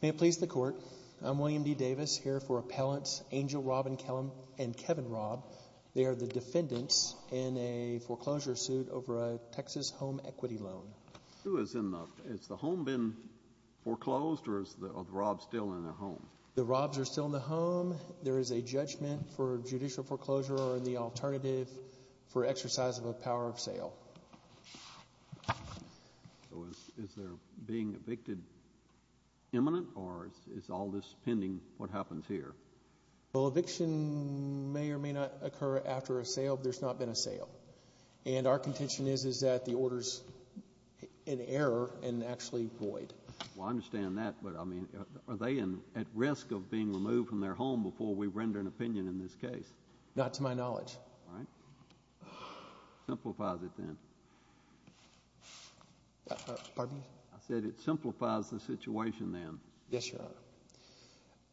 May it please the Court, I'm William D. Davis, here for Appellants Angel Robyn Kellum and Kevin Robb. They are the defendants in a foreclosure suit over a Texas home equity loan. Has the home been foreclosed or are the Robbs still in the home? The Robbs are still in the home. There is a judgment for judicial foreclosure or the alternative for exercise of a power of sale. So is there being evicted imminent or is all this pending what happens here? Well, eviction may or may not occur after a sale if there's not been a sale. And our contention is that the order's in error and actually void. Well, I understand that, but I mean, are they at risk of being removed from their home before we render an opinion in this case? Not to my knowledge. All right. Simplify it then. Pardon me? I said it simplifies the situation then. Yes, Your Honor.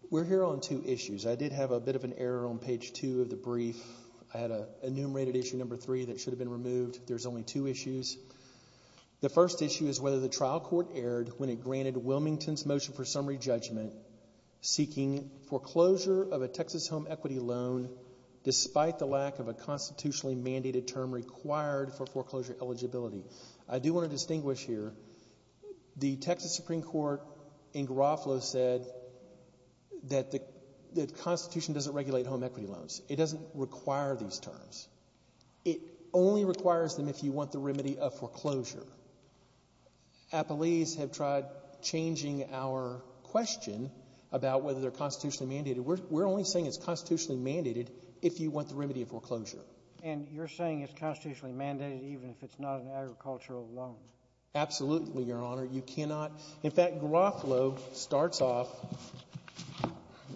We're here on two issues. I did have a bit of an error on page two of the brief. I had enumerated issue number three that should have been removed. There's only two issues. The first issue is whether the trial court erred when it granted Wilmington's motion for summary judgment seeking foreclosure of a Texas home equity loan despite the lack of a constitutionally mandated term required for foreclosure eligibility. I do want to distinguish here. The Texas Supreme Court in Garofalo said that the Constitution doesn't regulate home equity loans. It doesn't require these terms. It only requires them if you want the remedy of foreclosure. Appellees have tried changing our question about whether they're constitutionally mandated. We're only saying it's constitutionally mandated if you want the remedy of foreclosure. And you're saying it's constitutionally mandated even if it's not an agricultural loan? Absolutely, Your Honor. You cannot. In fact, Garofalo starts off,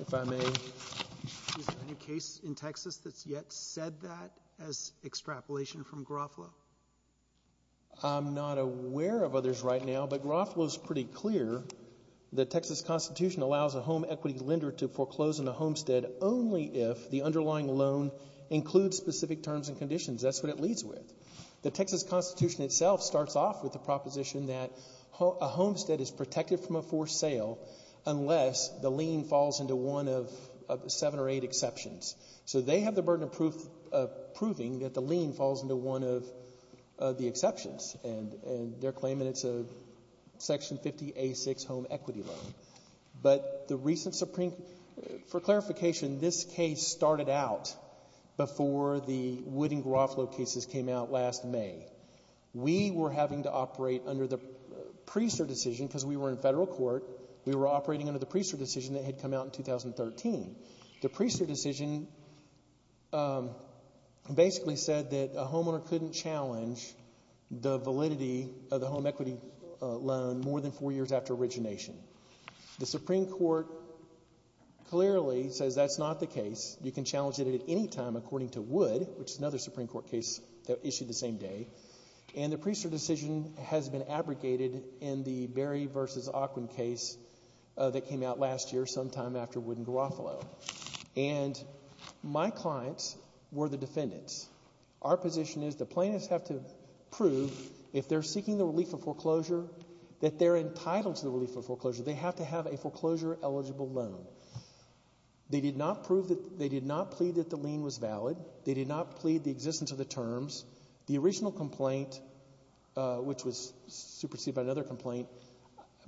if I may. Is there any case in Texas that's yet said that as extrapolation from Garofalo? I'm not aware of others right now, but Garofalo's pretty clear. The Texas Constitution allows a home equity lender to foreclose on a homestead only if the underlying loan includes specific terms and conditions. That's what it leads with. The Texas Constitution itself starts off with the proposition that a homestead is protected from a forced sale unless the lien falls into one of seven or eight exceptions. So they have the burden of proving that the lien falls into one of the exceptions. And they're claiming it's a Section 50A6 home equity loan. But the recent Supreme Court, for clarification, this case started out before the Wood and Garofalo cases came out last May. We were having to operate under the Priester decision because we were in federal court. We were operating under the Priester decision that had come out in 2013. The Priester decision basically said that a homeowner couldn't challenge the validity of the home equity loan more than four years after origination. The Supreme Court clearly says that's not the case. You can challenge it at any time according to Wood, which is another Supreme Court case that issued the same day. And the Priester decision has been abrogated in the Berry v. Ockwin case that came out last year sometime after Wood and Garofalo. And my clients were the defendants. Our position is the plaintiffs have to prove if they're seeking the relief of foreclosure that they're entitled to the relief of foreclosure. They have to have a foreclosure-eligible loan. They did not plead that the lien was valid. They did not plead the existence of the terms. The original complaint, which was superseded by another complaint,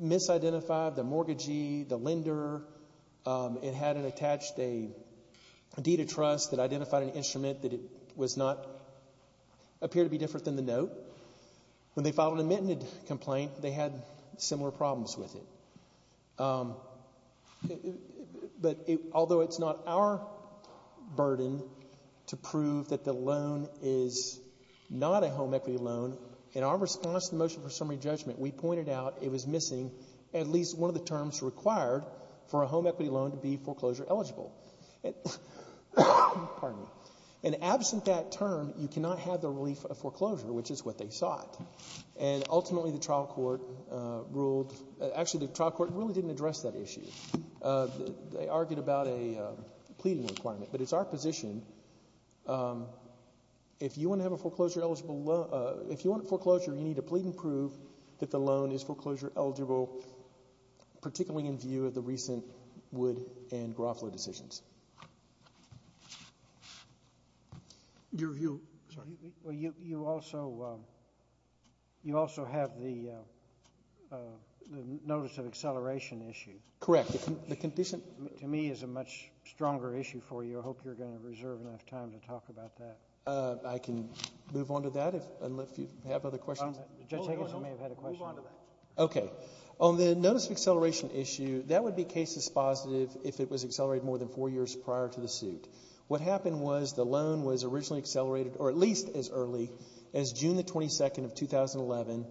misidentified the mortgagee, the lender. It had attached a deed of trust that identified an instrument that it was not, appeared to be different than the note. When they filed an admitted complaint, they had similar problems with it. But although it's not our burden to prove that the loan is not a home equity loan, in our response to the motion for summary judgment, we pointed out it was missing at least one of the terms required for a home equity loan to be foreclosure-eligible. And absent that term, you cannot have the relief of foreclosure, which is what they sought. And ultimately, the trial court ruled – actually, the trial court really didn't address that issue. They argued about a pleading requirement. But it's our position if you want to have a foreclosure-eligible loan – if you want foreclosure, you need to plead and prove that the loan is foreclosure-eligible, particularly in view of the recent Wood and Groffler decisions. Your view? Well, you also have the notice of acceleration issue. Correct. To me, it's a much stronger issue for you. I hope you're going to reserve enough time to talk about that. I can move on to that, unless you have other questions. Judge Higgins may have had a question. Move on to that. Okay. On the notice of acceleration issue, that would be case dispositive if it was accelerated more than four years prior to the suit. What happened was the loan was originally accelerated, or at least as early, as June 22, 2011,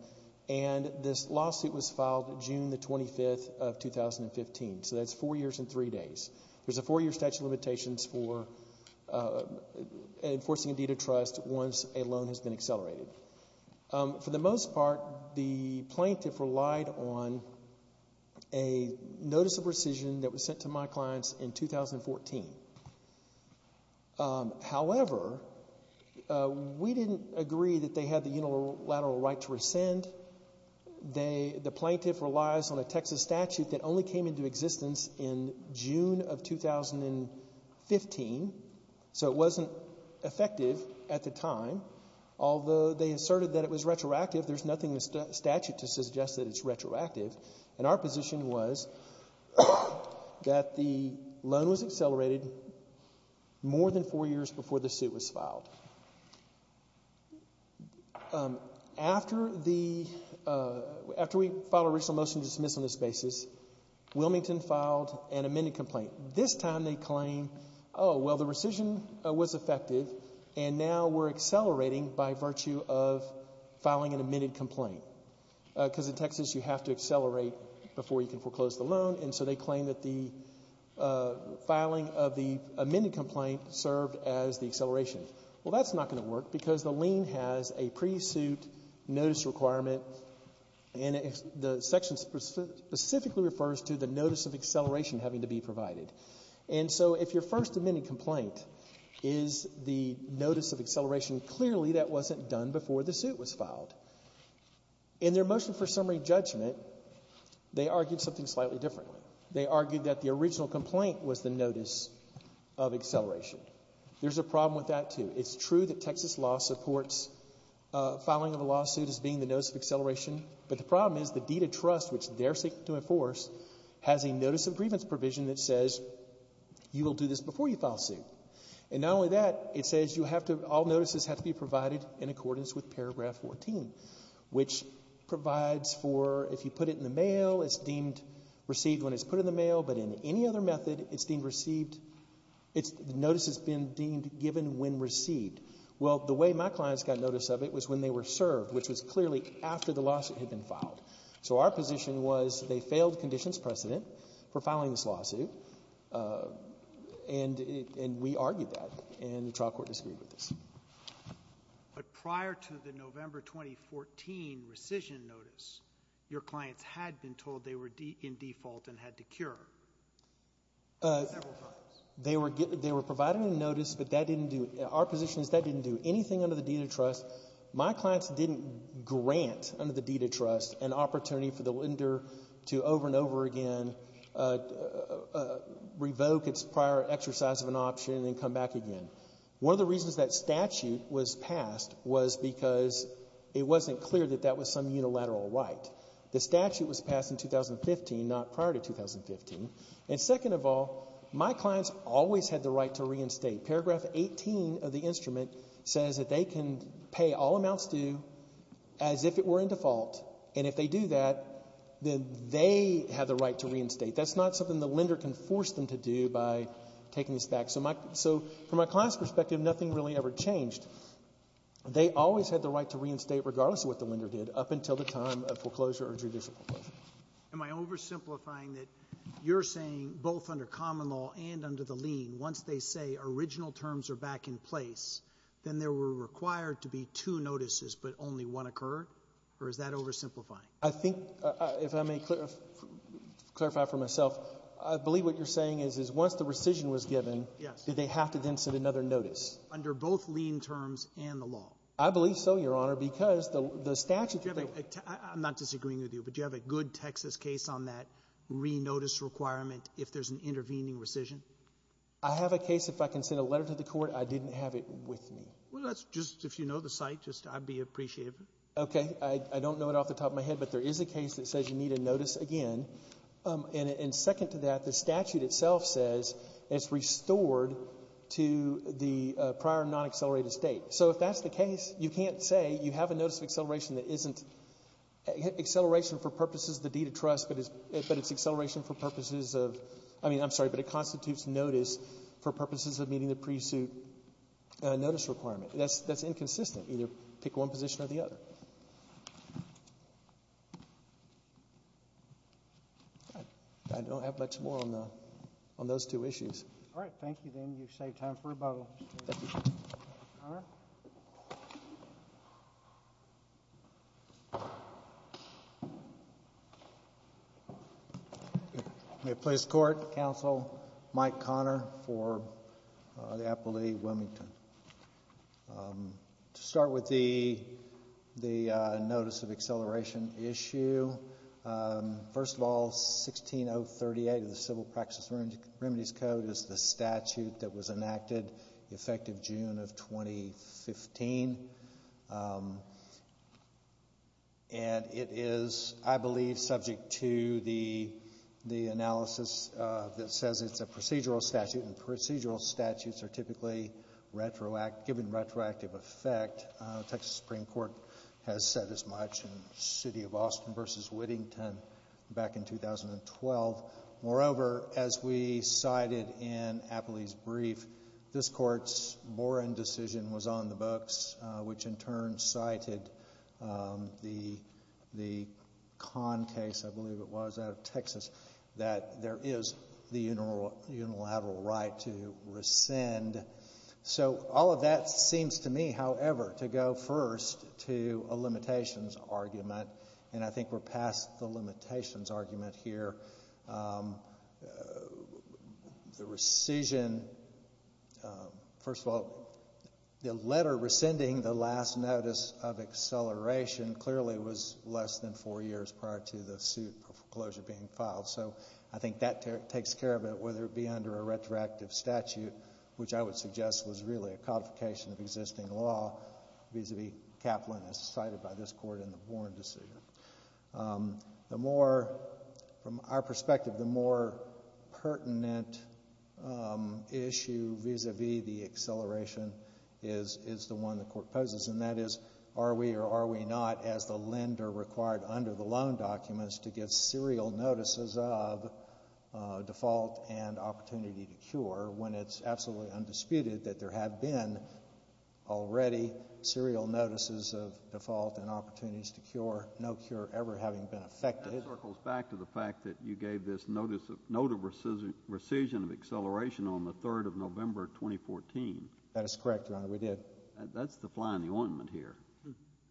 and this lawsuit was filed June 25, 2015. So that's four years and three days. There's a four-year statute of limitations for enforcing a deed of trust once a loan has been accelerated. For the most part, the plaintiff relied on a notice of rescission that was sent to my clients in 2014. However, we didn't agree that they had the unilateral right to rescind. The plaintiff relies on a Texas statute that only came into existence in June of 2015, so it wasn't effective at the time, although they asserted that it was retroactive. There's nothing in the statute to suggest that it's retroactive, and our position was that the loan was accelerated more than four years before the suit was filed. After we filed a recent motion to dismiss on this basis, Wilmington filed an amended complaint. This time they claim, oh, well, the rescission was effective, and now we're accelerating by virtue of filing an amended complaint, because in Texas you have to accelerate before you can foreclose the loan, and so they claim that the filing of the amended complaint served as the acceleration. Well, that's not going to work because the lien has a pre-suit notice requirement, and the section specifically refers to the notice of acceleration having to be provided. And so if your first amended complaint is the notice of acceleration, clearly that wasn't done before the suit was filed. In their motion for summary judgment, they argued something slightly differently. They argued that the original complaint was the notice of acceleration. There's a problem with that, too. It's true that Texas law supports filing of a lawsuit as being the notice of acceleration, but the problem is the deed of trust, which they're seeking to enforce, has a notice of grievance provision that says you will do this before you file a suit. And not only that, it says all notices have to be provided in accordance with paragraph 14, which provides for if you put it in the mail, it's deemed received when it's put in the mail, but in any other method, it's deemed received. The notice has been deemed given when received. Well, the way my clients got notice of it was when they were served, which was clearly after the lawsuit had been filed. So our position was they failed conditions precedent for filing this lawsuit, and we argued that, and the trial court disagreed with us. But prior to the November 2014 rescission notice, your clients had been told they were in default and had to cure several times. They were provided a notice, but that didn't do it. Our position is that didn't do anything under the deed of trust. My clients didn't grant under the deed of trust an opportunity for the lender to over and over again revoke its prior exercise of an option and then come back again. One of the reasons that statute was passed was because it wasn't clear that that was some unilateral right. The statute was passed in 2015, not prior to 2015. And second of all, my clients always had the right to reinstate. Paragraph 18 of the instrument says that they can pay all amounts due as if it were in default, and if they do that, then they have the right to reinstate. That's not something the lender can force them to do by taking this back. So from my client's perspective, nothing really ever changed. They always had the right to reinstate regardless of what the lender did up until the time of foreclosure or judicial foreclosure. Am I oversimplifying that you're saying both under common law and under the lien, once they say original terms are back in place, then there were required to be two notices, but only one occurred? Or is that oversimplifying? I think, if I may clarify for myself, I believe what you're saying is, is once the rescission was given, did they have to then send another notice? Under both lien terms and the law. I believe so, Your Honor, because the statute you're talking about — I'm not disagreeing with you, but do you have a good Texas case on that re-notice requirement if there's an intervening rescission? I have a case. If I can send a letter to the Court, I didn't have it with me. Well, that's just if you know the site, just I'd be appreciative. Okay. I don't know it off the top of my head, but there is a case that says you need a notice again. And second to that, the statute itself says it's restored to the prior non-accelerated state. So if that's the case, you can't say you have a notice of acceleration that isn't acceleration for purposes of the deed of trust, but it's acceleration for purposes of — I mean, I'm sorry, but it constitutes notice for purposes of meeting the pre-suit notice requirement. That's inconsistent. Either pick one position or the other. I don't have much more on those two issues. All right. Thank you, then. You've saved time for rebuttal. Thank you. Mayor? May it please the Court? Counsel Mike Connor for the appellee, Wilmington. To start with the notice of acceleration issue, first of all, 16038 of the Civil Practices and Remedies Code is the statute that was enacted effective June of 2015. And it is, I believe, subject to the analysis that says it's a procedural statute, and procedural statutes are typically given retroactive effect. Texas Supreme Court has said as much in City of Austin v. Whittington back in 2012. Moreover, as we cited in appellee's brief, this Court's Boren decision was on the books, which in turn cited the Kahn case, I believe it was, out of Texas, that there is the unilateral right to rescind. So all of that seems to me, however, to go first to a limitations argument, and I think we're past the limitations argument here. The rescission, first of all, the letter rescinding the last notice of acceleration clearly was less than four years prior to the suit for foreclosure being filed. So I think that takes care of it, whether it be under a retroactive statute, which I would suggest was really a codification of existing law, vis-à-vis Kaplan as cited by this Court in the Boren decision. The more, from our perspective, the more pertinent issue vis-à-vis the acceleration is the one the Court poses, and that is are we or are we not, as the lender required under the loan documents, to get serial notices of default and opportunity to cure when it's absolutely undisputed that there have been already serial notices of default and opportunities to cure, no cure ever having been effected. That circles back to the fact that you gave this note of rescission of acceleration on the 3rd of November 2014. That is correct, Your Honor. We did. That's the fly in the ointment here.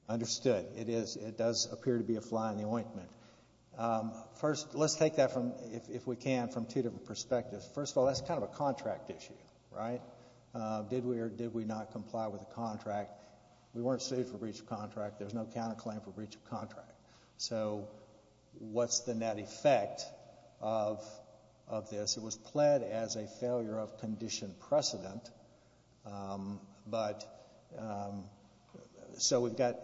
Understood. It does appear to be a fly in the ointment. First, let's take that, if we can, from two different perspectives. First of all, that's kind of a contract issue, right? Did we or did we not comply with the contract? We weren't sued for breach of contract. There's no counterclaim for breach of contract. So what's the net effect of this? It was pled as a failure of condition precedent, but so we've got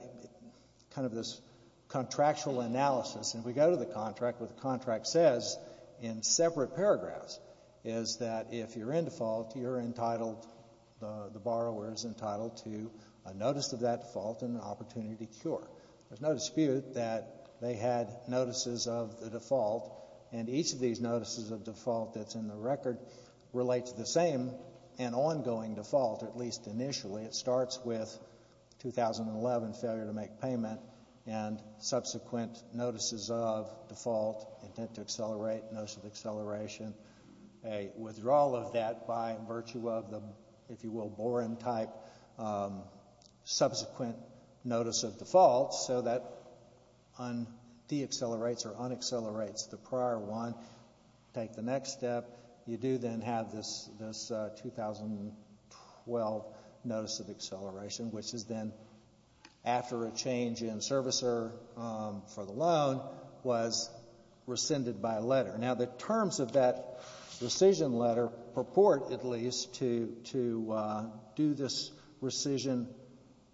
kind of this contractual analysis, and we go to the contract. What the contract says in separate paragraphs is that if you're in default, you're entitled, the borrower is entitled to a notice of that default and an opportunity to cure. There's no dispute that they had notices of the default, and each of these notices of default that's in the record relates to the same and ongoing default, at least initially. It starts with 2011, failure to make payment, and subsequent notices of default, intent to accelerate, notice of acceleration, a withdrawal of that by virtue of the, if you will, boron-type subsequent notice of default so that deaccelerates or unaccelerates the prior one. Take the next step. You do then have this 2012 notice of acceleration, which is then after a change in servicer for the loan was rescinded by a letter. Now, the terms of that rescission letter purport, at least, to do this rescission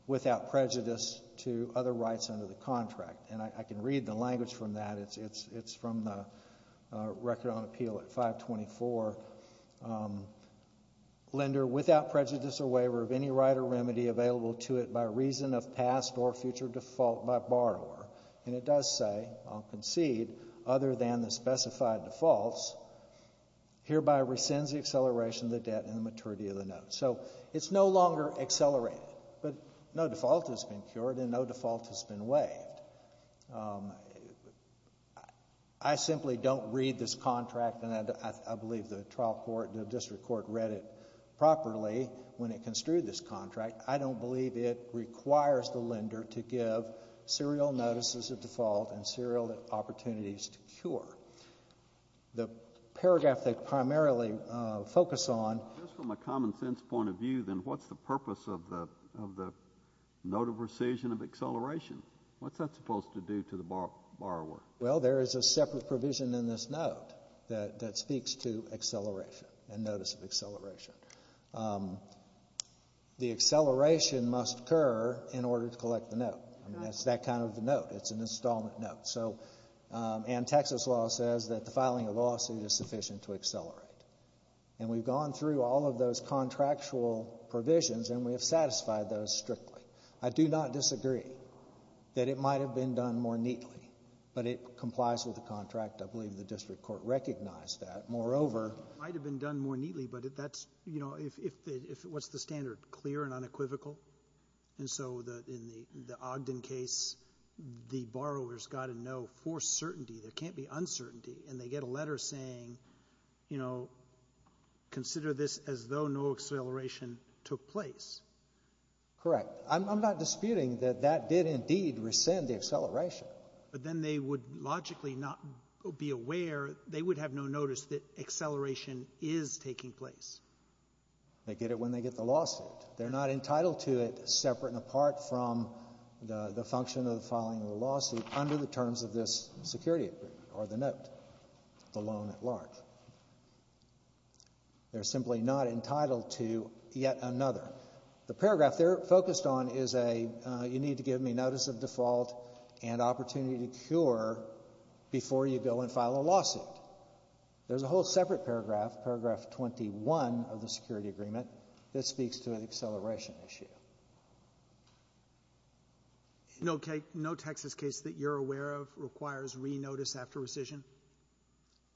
without prejudice to other rights under the contract, and I can read the language from that. It's from the Record on Appeal at 524. Lender, without prejudice or waiver of any right or remedy available to it by reason of past or future default by borrower, and it does say, I'll concede, other than the specified defaults, hereby rescinds the acceleration of the debt and the maturity of the note. So it's no longer accelerated, but no default has been cured and no default has been waived. I simply don't read this contract, and I believe the trial court, the district court, read it properly when it construed this contract. I don't believe it requires the lender to give serial notices of default and serial opportunities to cure. The paragraph they primarily focus on. Just from a common sense point of view, then, what's the purpose of the note of rescission of acceleration? What's that supposed to do to the borrower? Well, there is a separate provision in this note that speaks to acceleration and notice of acceleration. The acceleration must occur in order to collect the note. It's that kind of note. It's an installment note. And Texas law says that the filing of a lawsuit is sufficient to accelerate. And we've gone through all of those contractual provisions, and we have satisfied those strictly. I do not disagree that it might have been done more neatly, but it complies with the contract. I believe the district court recognized that. Moreover, it might have been done more neatly, but that's, you know, what's the standard, clear and unequivocal? And so in the Ogden case, the borrower's got to know for certainty. There can't be uncertainty. And they get a letter saying, you know, consider this as though no acceleration took place. Correct. I'm not disputing that that did indeed rescind the acceleration. But then they would logically not be aware. They would have no notice that acceleration is taking place. They get it when they get the lawsuit. They're not entitled to it, separate and apart from the function of the filing of the lawsuit, under the terms of this security agreement or the note, the loan at large. They're simply not entitled to yet another. The paragraph they're focused on is a you need to give me notice of default and opportunity to cure before you go and file a lawsuit. There's a whole separate paragraph, paragraph 21 of the security agreement, that speaks to an acceleration issue. No Texas case that you're aware of requires re-notice after rescission?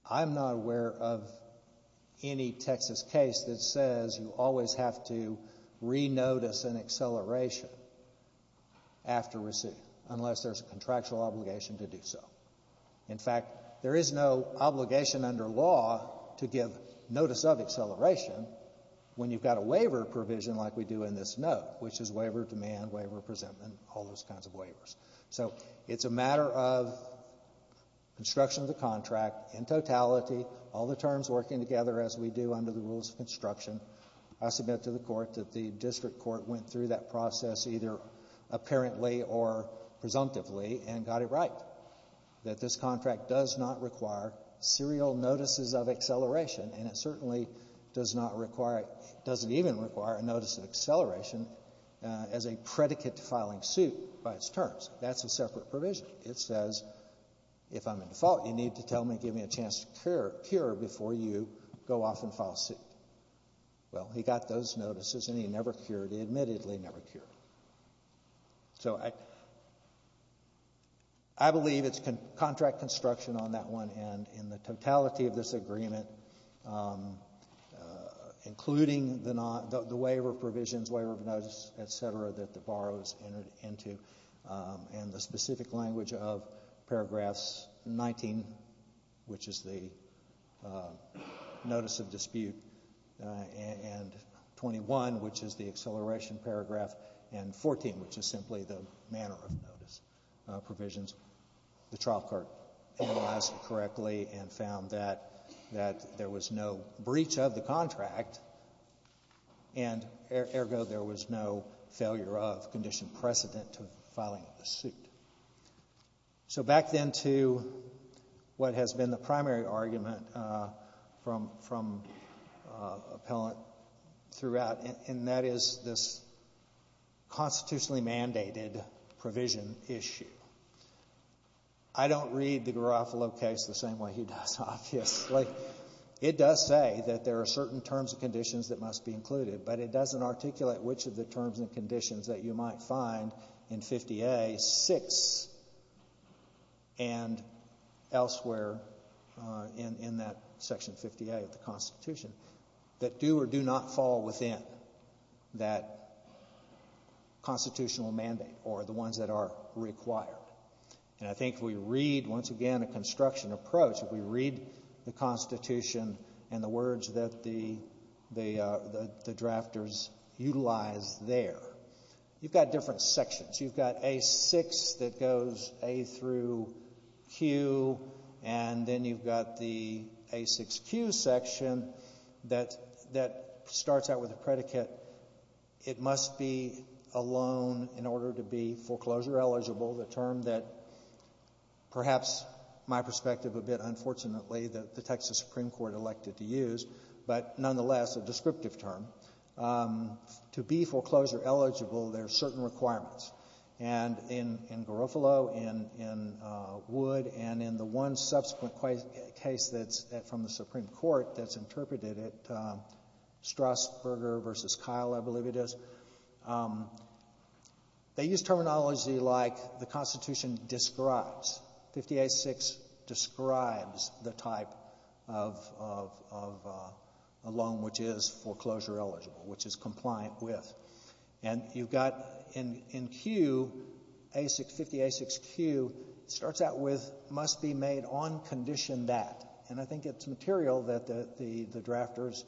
I'm not aware of any Texas case that says you always have to re-notice an acceleration after rescission, unless there's a contractual obligation to do so. In fact, there is no obligation under law to give notice of acceleration when you've got a waiver provision like we do in this note, which is waiver of demand, waiver of presentment, all those kinds of waivers. So it's a matter of construction of the contract in totality, all the terms working together as we do under the rules of construction. I submit to the court that the district court went through that process, either apparently or presumptively, and got it right, that this contract does not require serial notices of acceleration, and it certainly does not require, doesn't even require a notice of acceleration as a predicate to filing suit by its terms. That's a separate provision. It says if I'm in default, you need to tell me, give me a chance to cure before you go off and file a suit. Well, he got those notices, and he never cured. He admittedly never cured. So I believe it's contract construction on that one, and in the totality of this agreement, including the waiver provisions, waiver of notice, et cetera, that the borrower's entered into, and the specific language of paragraphs 19, which is the notice of dispute, and 21, which is the acceleration paragraph, and 14, which is simply the manner of notice provisions, the trial court analyzed it correctly and found that there was no breach of the contract, and ergo there was no failure of condition precedent to filing a suit. So back then to what has been the primary argument from appellant throughout, and that is this constitutionally mandated provision issue. I don't read the Garofalo case the same way he does, obviously. It does say that there are certain terms and conditions that must be included, but it doesn't articulate which of the terms and conditions that you might find in 50A6 and elsewhere in that section 50A of the Constitution that do or do not fall within that constitutional mandate or the ones that are required. And I think if we read, once again, a construction approach, if we read the Constitution and the words that the drafters utilize there, you've got different sections. You've got A6 that goes A through Q, and then you've got the A6Q section that starts out with a predicate, it must be a loan in order to be foreclosure eligible, the term that perhaps my perspective a bit unfortunately that the Texas Supreme Court elected to use, but nonetheless a descriptive term. To be foreclosure eligible, there are certain requirements. And in Garofalo, in Wood, and in the one subsequent case that's from the Supreme Court that's interpreted at Strasburger v. Kyle, I believe it is, they use terminology like the Constitution describes. 50A6 describes the type of loan which is foreclosure eligible, which is compliant with. And you've got in Q, 50A6Q starts out with must be made on condition that. And I think it's material that the drafters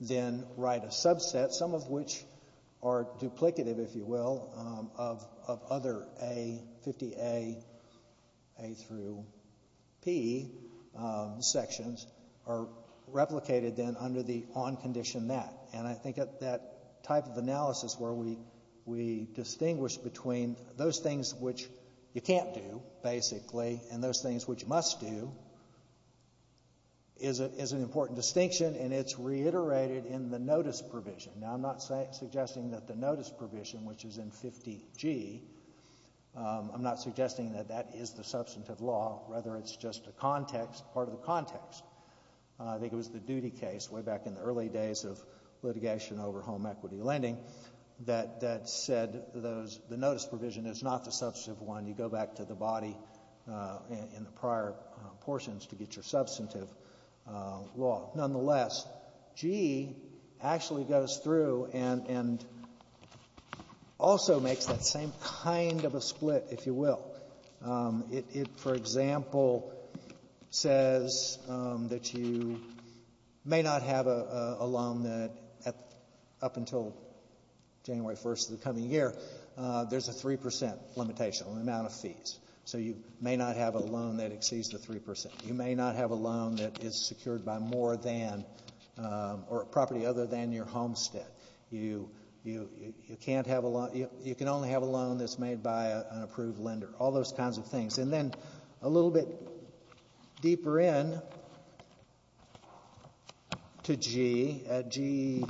then write a subset, some of which are duplicative, if you will, of other A, 50A, A through P sections, are replicated then under the on condition that. And I think that type of analysis where we distinguish between those things which you can't do, basically, and those things which you must do is an important distinction, and it's reiterated in the notice provision. Now, I'm not suggesting that the notice provision, which is in 50G, I'm not suggesting that that is the substantive law. Rather, it's just a context, part of the context. I think it was the duty case way back in the early days of litigation over home equity lending that said the notice provision is not the substantive one. You go back to the body in the prior portions to get your substantive law. Nonetheless, G actually goes through and also makes that same kind of a split, if you will. It, for example, says that you may not have a loan that up until January 1st of the coming year, there's a 3% limitation on the amount of fees. So you may not have a loan that exceeds the 3%. You may not have a loan that is secured by more than or a property other than your homestead. You can only have a loan that's made by an approved lender, all those kinds of things. And then a little bit deeper in to G,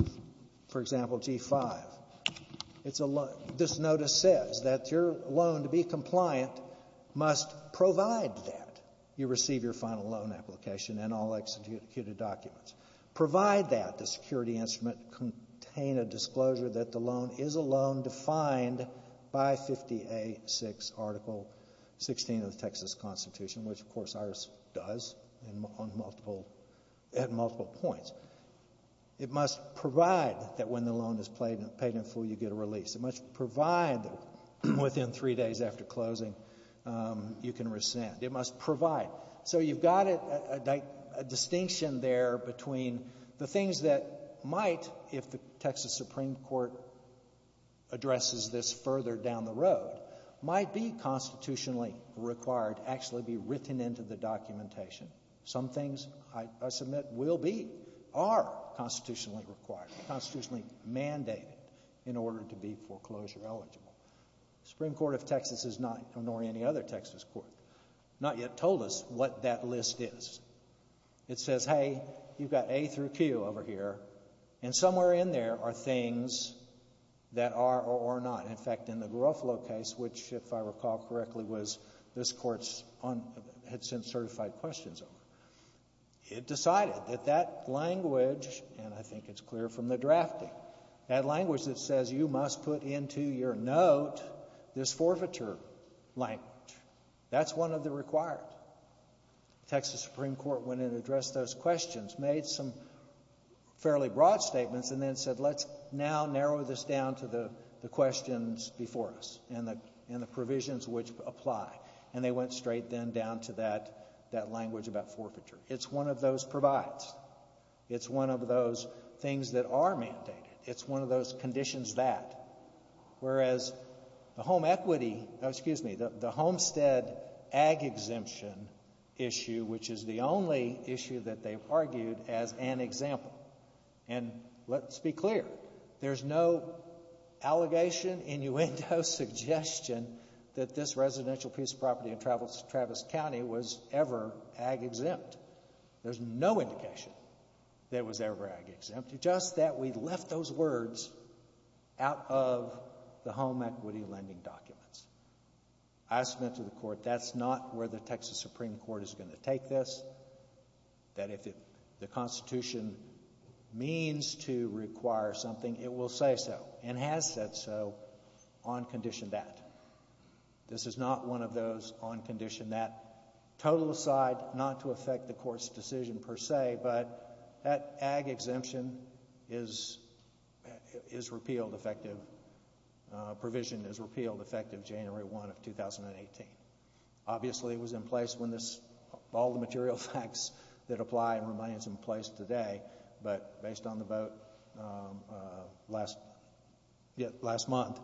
for example, G-5. This notice says that your loan, to be compliant, must provide that you receive your final loan application and all executed documents. Provide that the security instrument contain a disclosure that the loan is a loan defined by 50A6, Article 16 of the Texas Constitution, which, of course, ours does at multiple points. It must provide that when the loan is paid in full, you get a release. It must provide that within three days after closing, you can rescind. It must provide. So you've got a distinction there between the things that might, if the Texas Supreme Court addresses this further down the road, might be constitutionally required to actually be written into the documentation. Some things, I submit, will be, are constitutionally required, constitutionally mandated, in order to be foreclosure eligible. The Supreme Court of Texas is not, nor any other Texas court, not yet told us what that list is. It says, hey, you've got A through Q over here, and somewhere in there are things that are or are not. In fact, in the Garofalo case, which, if I recall correctly, was this court's, had sent certified questions over, it decided that that language, and I think it's clear from the drafting, that language that says you must put into your note this forfeiture language, that's one of the required. The Texas Supreme Court went in and addressed those questions, made some fairly broad statements, and then said let's now narrow this down to the questions before us and the provisions which apply. And they went straight then down to that language about forfeiture. It's one of those provides. It's one of those things that are mandated. It's one of those conditions that. Whereas the home equity, excuse me, the homestead ag exemption issue, which is the only issue that they've argued as an example, and let's be clear, there's no allegation, innuendo, suggestion that this residential piece of property in Travis County was ever ag exempt. There's no indication that it was ever ag exempt. It's just that we left those words out of the home equity lending documents. I submit to the court that's not where the Texas Supreme Court is going to take this, that if the Constitution means to require something, it will say so and has said so on condition that. This is not one of those on condition that. Total aside, not to affect the court's decision per se, but that ag exemption is repealed effective. Provision is repealed effective January 1 of 2018. Obviously, it was in place when this all the material facts that apply and remains in place today, but based on the vote last month,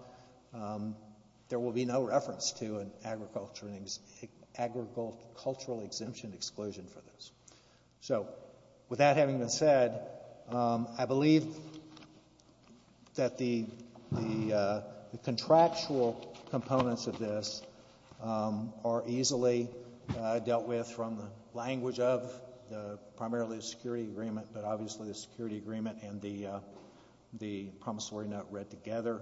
there will be no reference to an agricultural exemption exclusion for this. So, with that having been said, I believe that the contractual components of this are easily dealt with from the language of primarily the security agreement, but obviously the security agreement and the promissory note read together.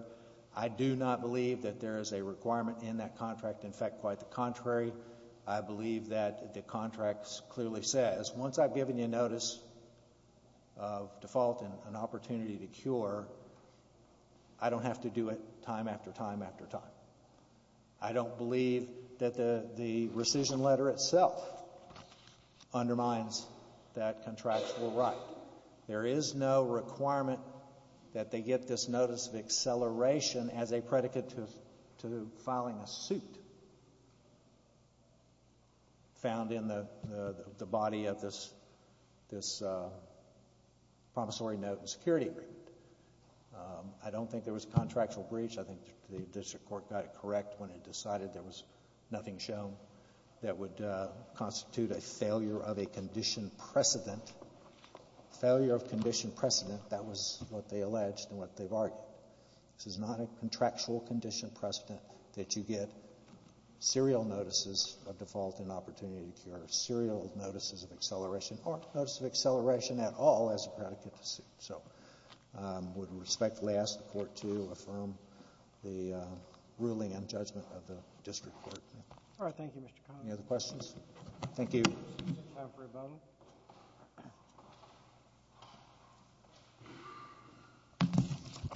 I do not believe that there is a requirement in that contract. In fact, quite the contrary. I believe that the contract clearly says once I've given you notice of default and an opportunity to cure, I don't have to do it time after time after time. I don't believe that the rescission letter itself undermines that contractual right. There is no requirement that they get this notice of acceleration as a predicate to filing a suit found in the body of this promissory note and security agreement. I don't think there was contractual breach. I think the district court got it correct when it decided there was nothing shown that would constitute a failure of a condition precedent. Failure of condition precedent, that was what they alleged and what they've argued. This is not a contractual condition precedent that you get serial notices of default and opportunity to cure, serial notices of acceleration or notice of acceleration at all as a predicate to suit. So I would respectfully ask the Court to affirm the ruling and judgment of the district court. All right. Thank you, Mr. Connolly. Any other questions? Thank you. We have time for a vote.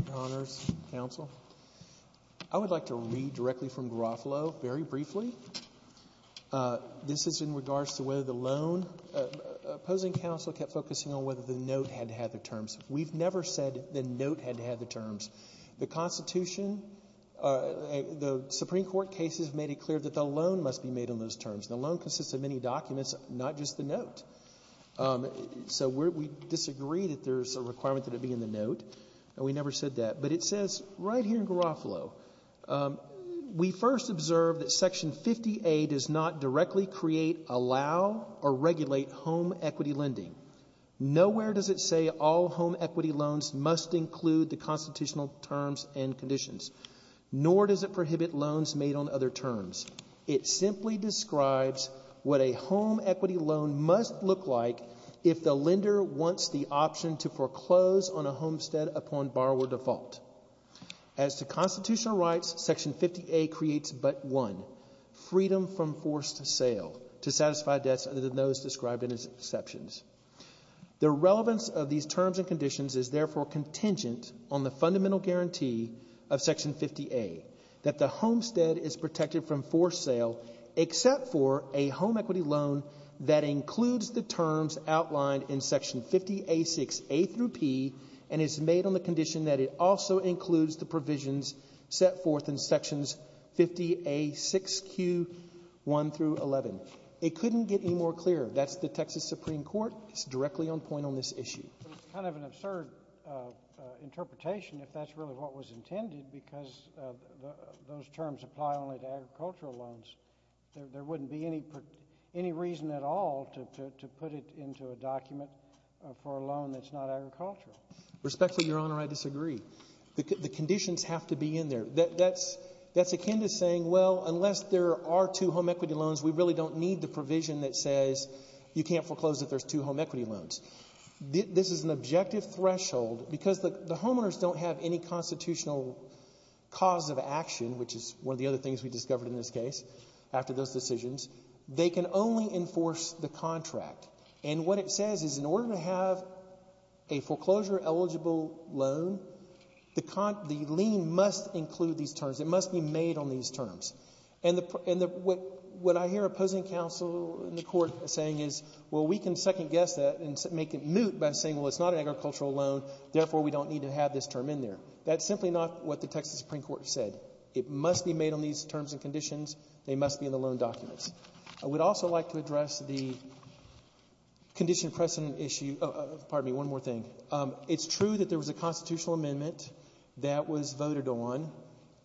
Your Honors, Counsel, I would like to read directly from Garofalo very briefly. This is in regards to whether the loan. Opposing counsel kept focusing on whether the note had to have the terms. We've never said the note had to have the terms. The Constitution, the Supreme Court cases made it clear that the loan must be made on those terms. The loan consists of many documents, not just the note. So we disagree that there's a requirement that it be in the note, and we never said that. But it says right here in Garofalo, We first observed that Section 50A does not directly create, allow, or regulate home equity lending. Nowhere does it say all home equity loans must include the constitutional terms and conditions, nor does it prohibit loans made on other terms. It simply describes what a home equity loan must look like if the lender wants the option to foreclose on a homestead upon borrower default. As to constitutional rights, Section 50A creates but one, freedom from forced sale, to satisfy debts other than those described in its exceptions. The relevance of these terms and conditions is therefore contingent on the fundamental guarantee of Section 50A, that the homestead is protected from forced sale except for a home equity loan that includes the terms outlined in Section 50A6A through P and is made on the condition that it also includes the provisions set forth in Sections 50A6Q1 through 11. It couldn't get any more clear. That's the Texas Supreme Court. It's directly on point on this issue. It's kind of an absurd interpretation if that's really what was intended because those terms apply only to agricultural loans. There wouldn't be any reason at all to put it into a document for a loan that's not agricultural. Respectfully, Your Honor, I disagree. The conditions have to be in there. That's akin to saying, well, unless there are two home equity loans, we really don't need the provision that says you can't foreclose if there's two home equity loans. This is an objective threshold because the homeowners don't have any constitutional cause of action, which is one of the other things we discovered in this case after those decisions. They can only enforce the contract. And what it says is in order to have a foreclosure-eligible loan, the lien must include these terms. It must be made on these terms. And what I hear opposing counsel in the court saying is, well, we can second-guess that and make it moot by saying, well, it's not an agricultural loan, therefore we don't need to have this term in there. That's simply not what the Texas Supreme Court said. It must be made on these terms and conditions. They must be in the loan documents. I would also like to address the condition precedent issue. Pardon me, one more thing. It's true that there was a constitutional amendment that was voted on.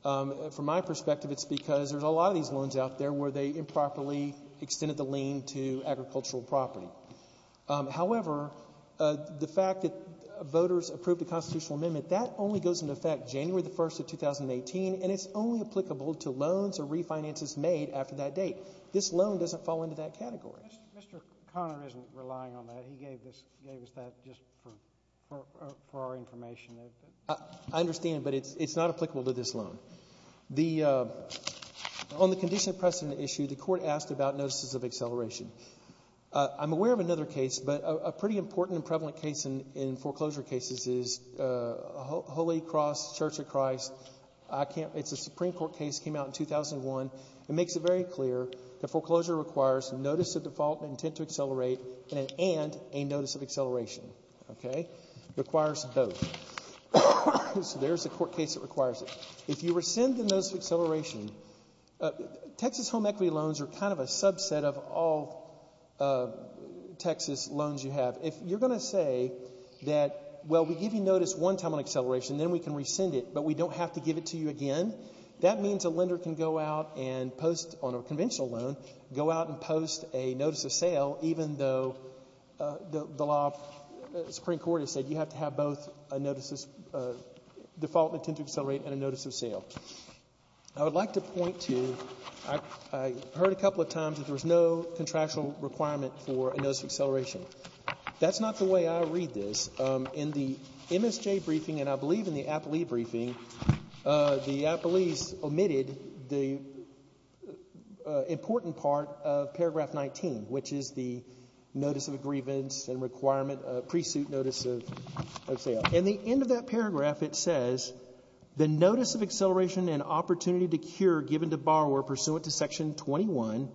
From my perspective, it's because there's a lot of these loans out there where they improperly extended the lien to agricultural property. However, the fact that voters approved a constitutional amendment, that only goes into effect January 1, 2018, and it's only applicable to loans or refinances made after that date. This loan doesn't fall into that category. Mr. Conner isn't relying on that. He gave us that just for our information. I understand, but it's not applicable to this loan. On the condition precedent issue, the Court asked about notices of acceleration. I'm aware of another case, but a pretty important and prevalent case in foreclosure cases is Holy Cross Church of Christ. It's a Supreme Court case. It came out in 2001. It makes it very clear that foreclosure requires notice of default, intent to accelerate, and a notice of acceleration. It requires both. So there's the court case that requires it. If you rescind the notice of acceleration, Texas home equity loans are kind of a subset of all Texas loans you have. If you're going to say that, well, we give you notice one time on acceleration, then we can rescind it, but we don't have to give it to you again, that means a lender can go out and post on a conventional loan, go out and post a notice of sale, even though the Supreme Court has said you have to have both a notice of default, intent to accelerate, and a notice of sale. I would like to point to, I heard a couple of times, that there was no contractual requirement for a notice of acceleration. That's not the way I read this. In the MSJ briefing, and I believe in the Apley briefing, the Apleys omitted the important part of paragraph 19, which is the notice of grievance and requirement of pre-suit notice of sale. In the end of that paragraph, it says, the notice of acceleration and opportunity to cure given to borrower pursuant to section 21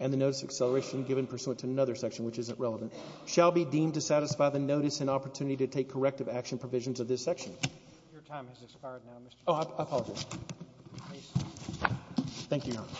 and the notice of acceleration given pursuant to another section, which isn't relevant, shall be deemed to satisfy the notice and opportunity to take corrective action provisions of this section. Your time has expired now, Mr. Chairman. Oh, I apologize.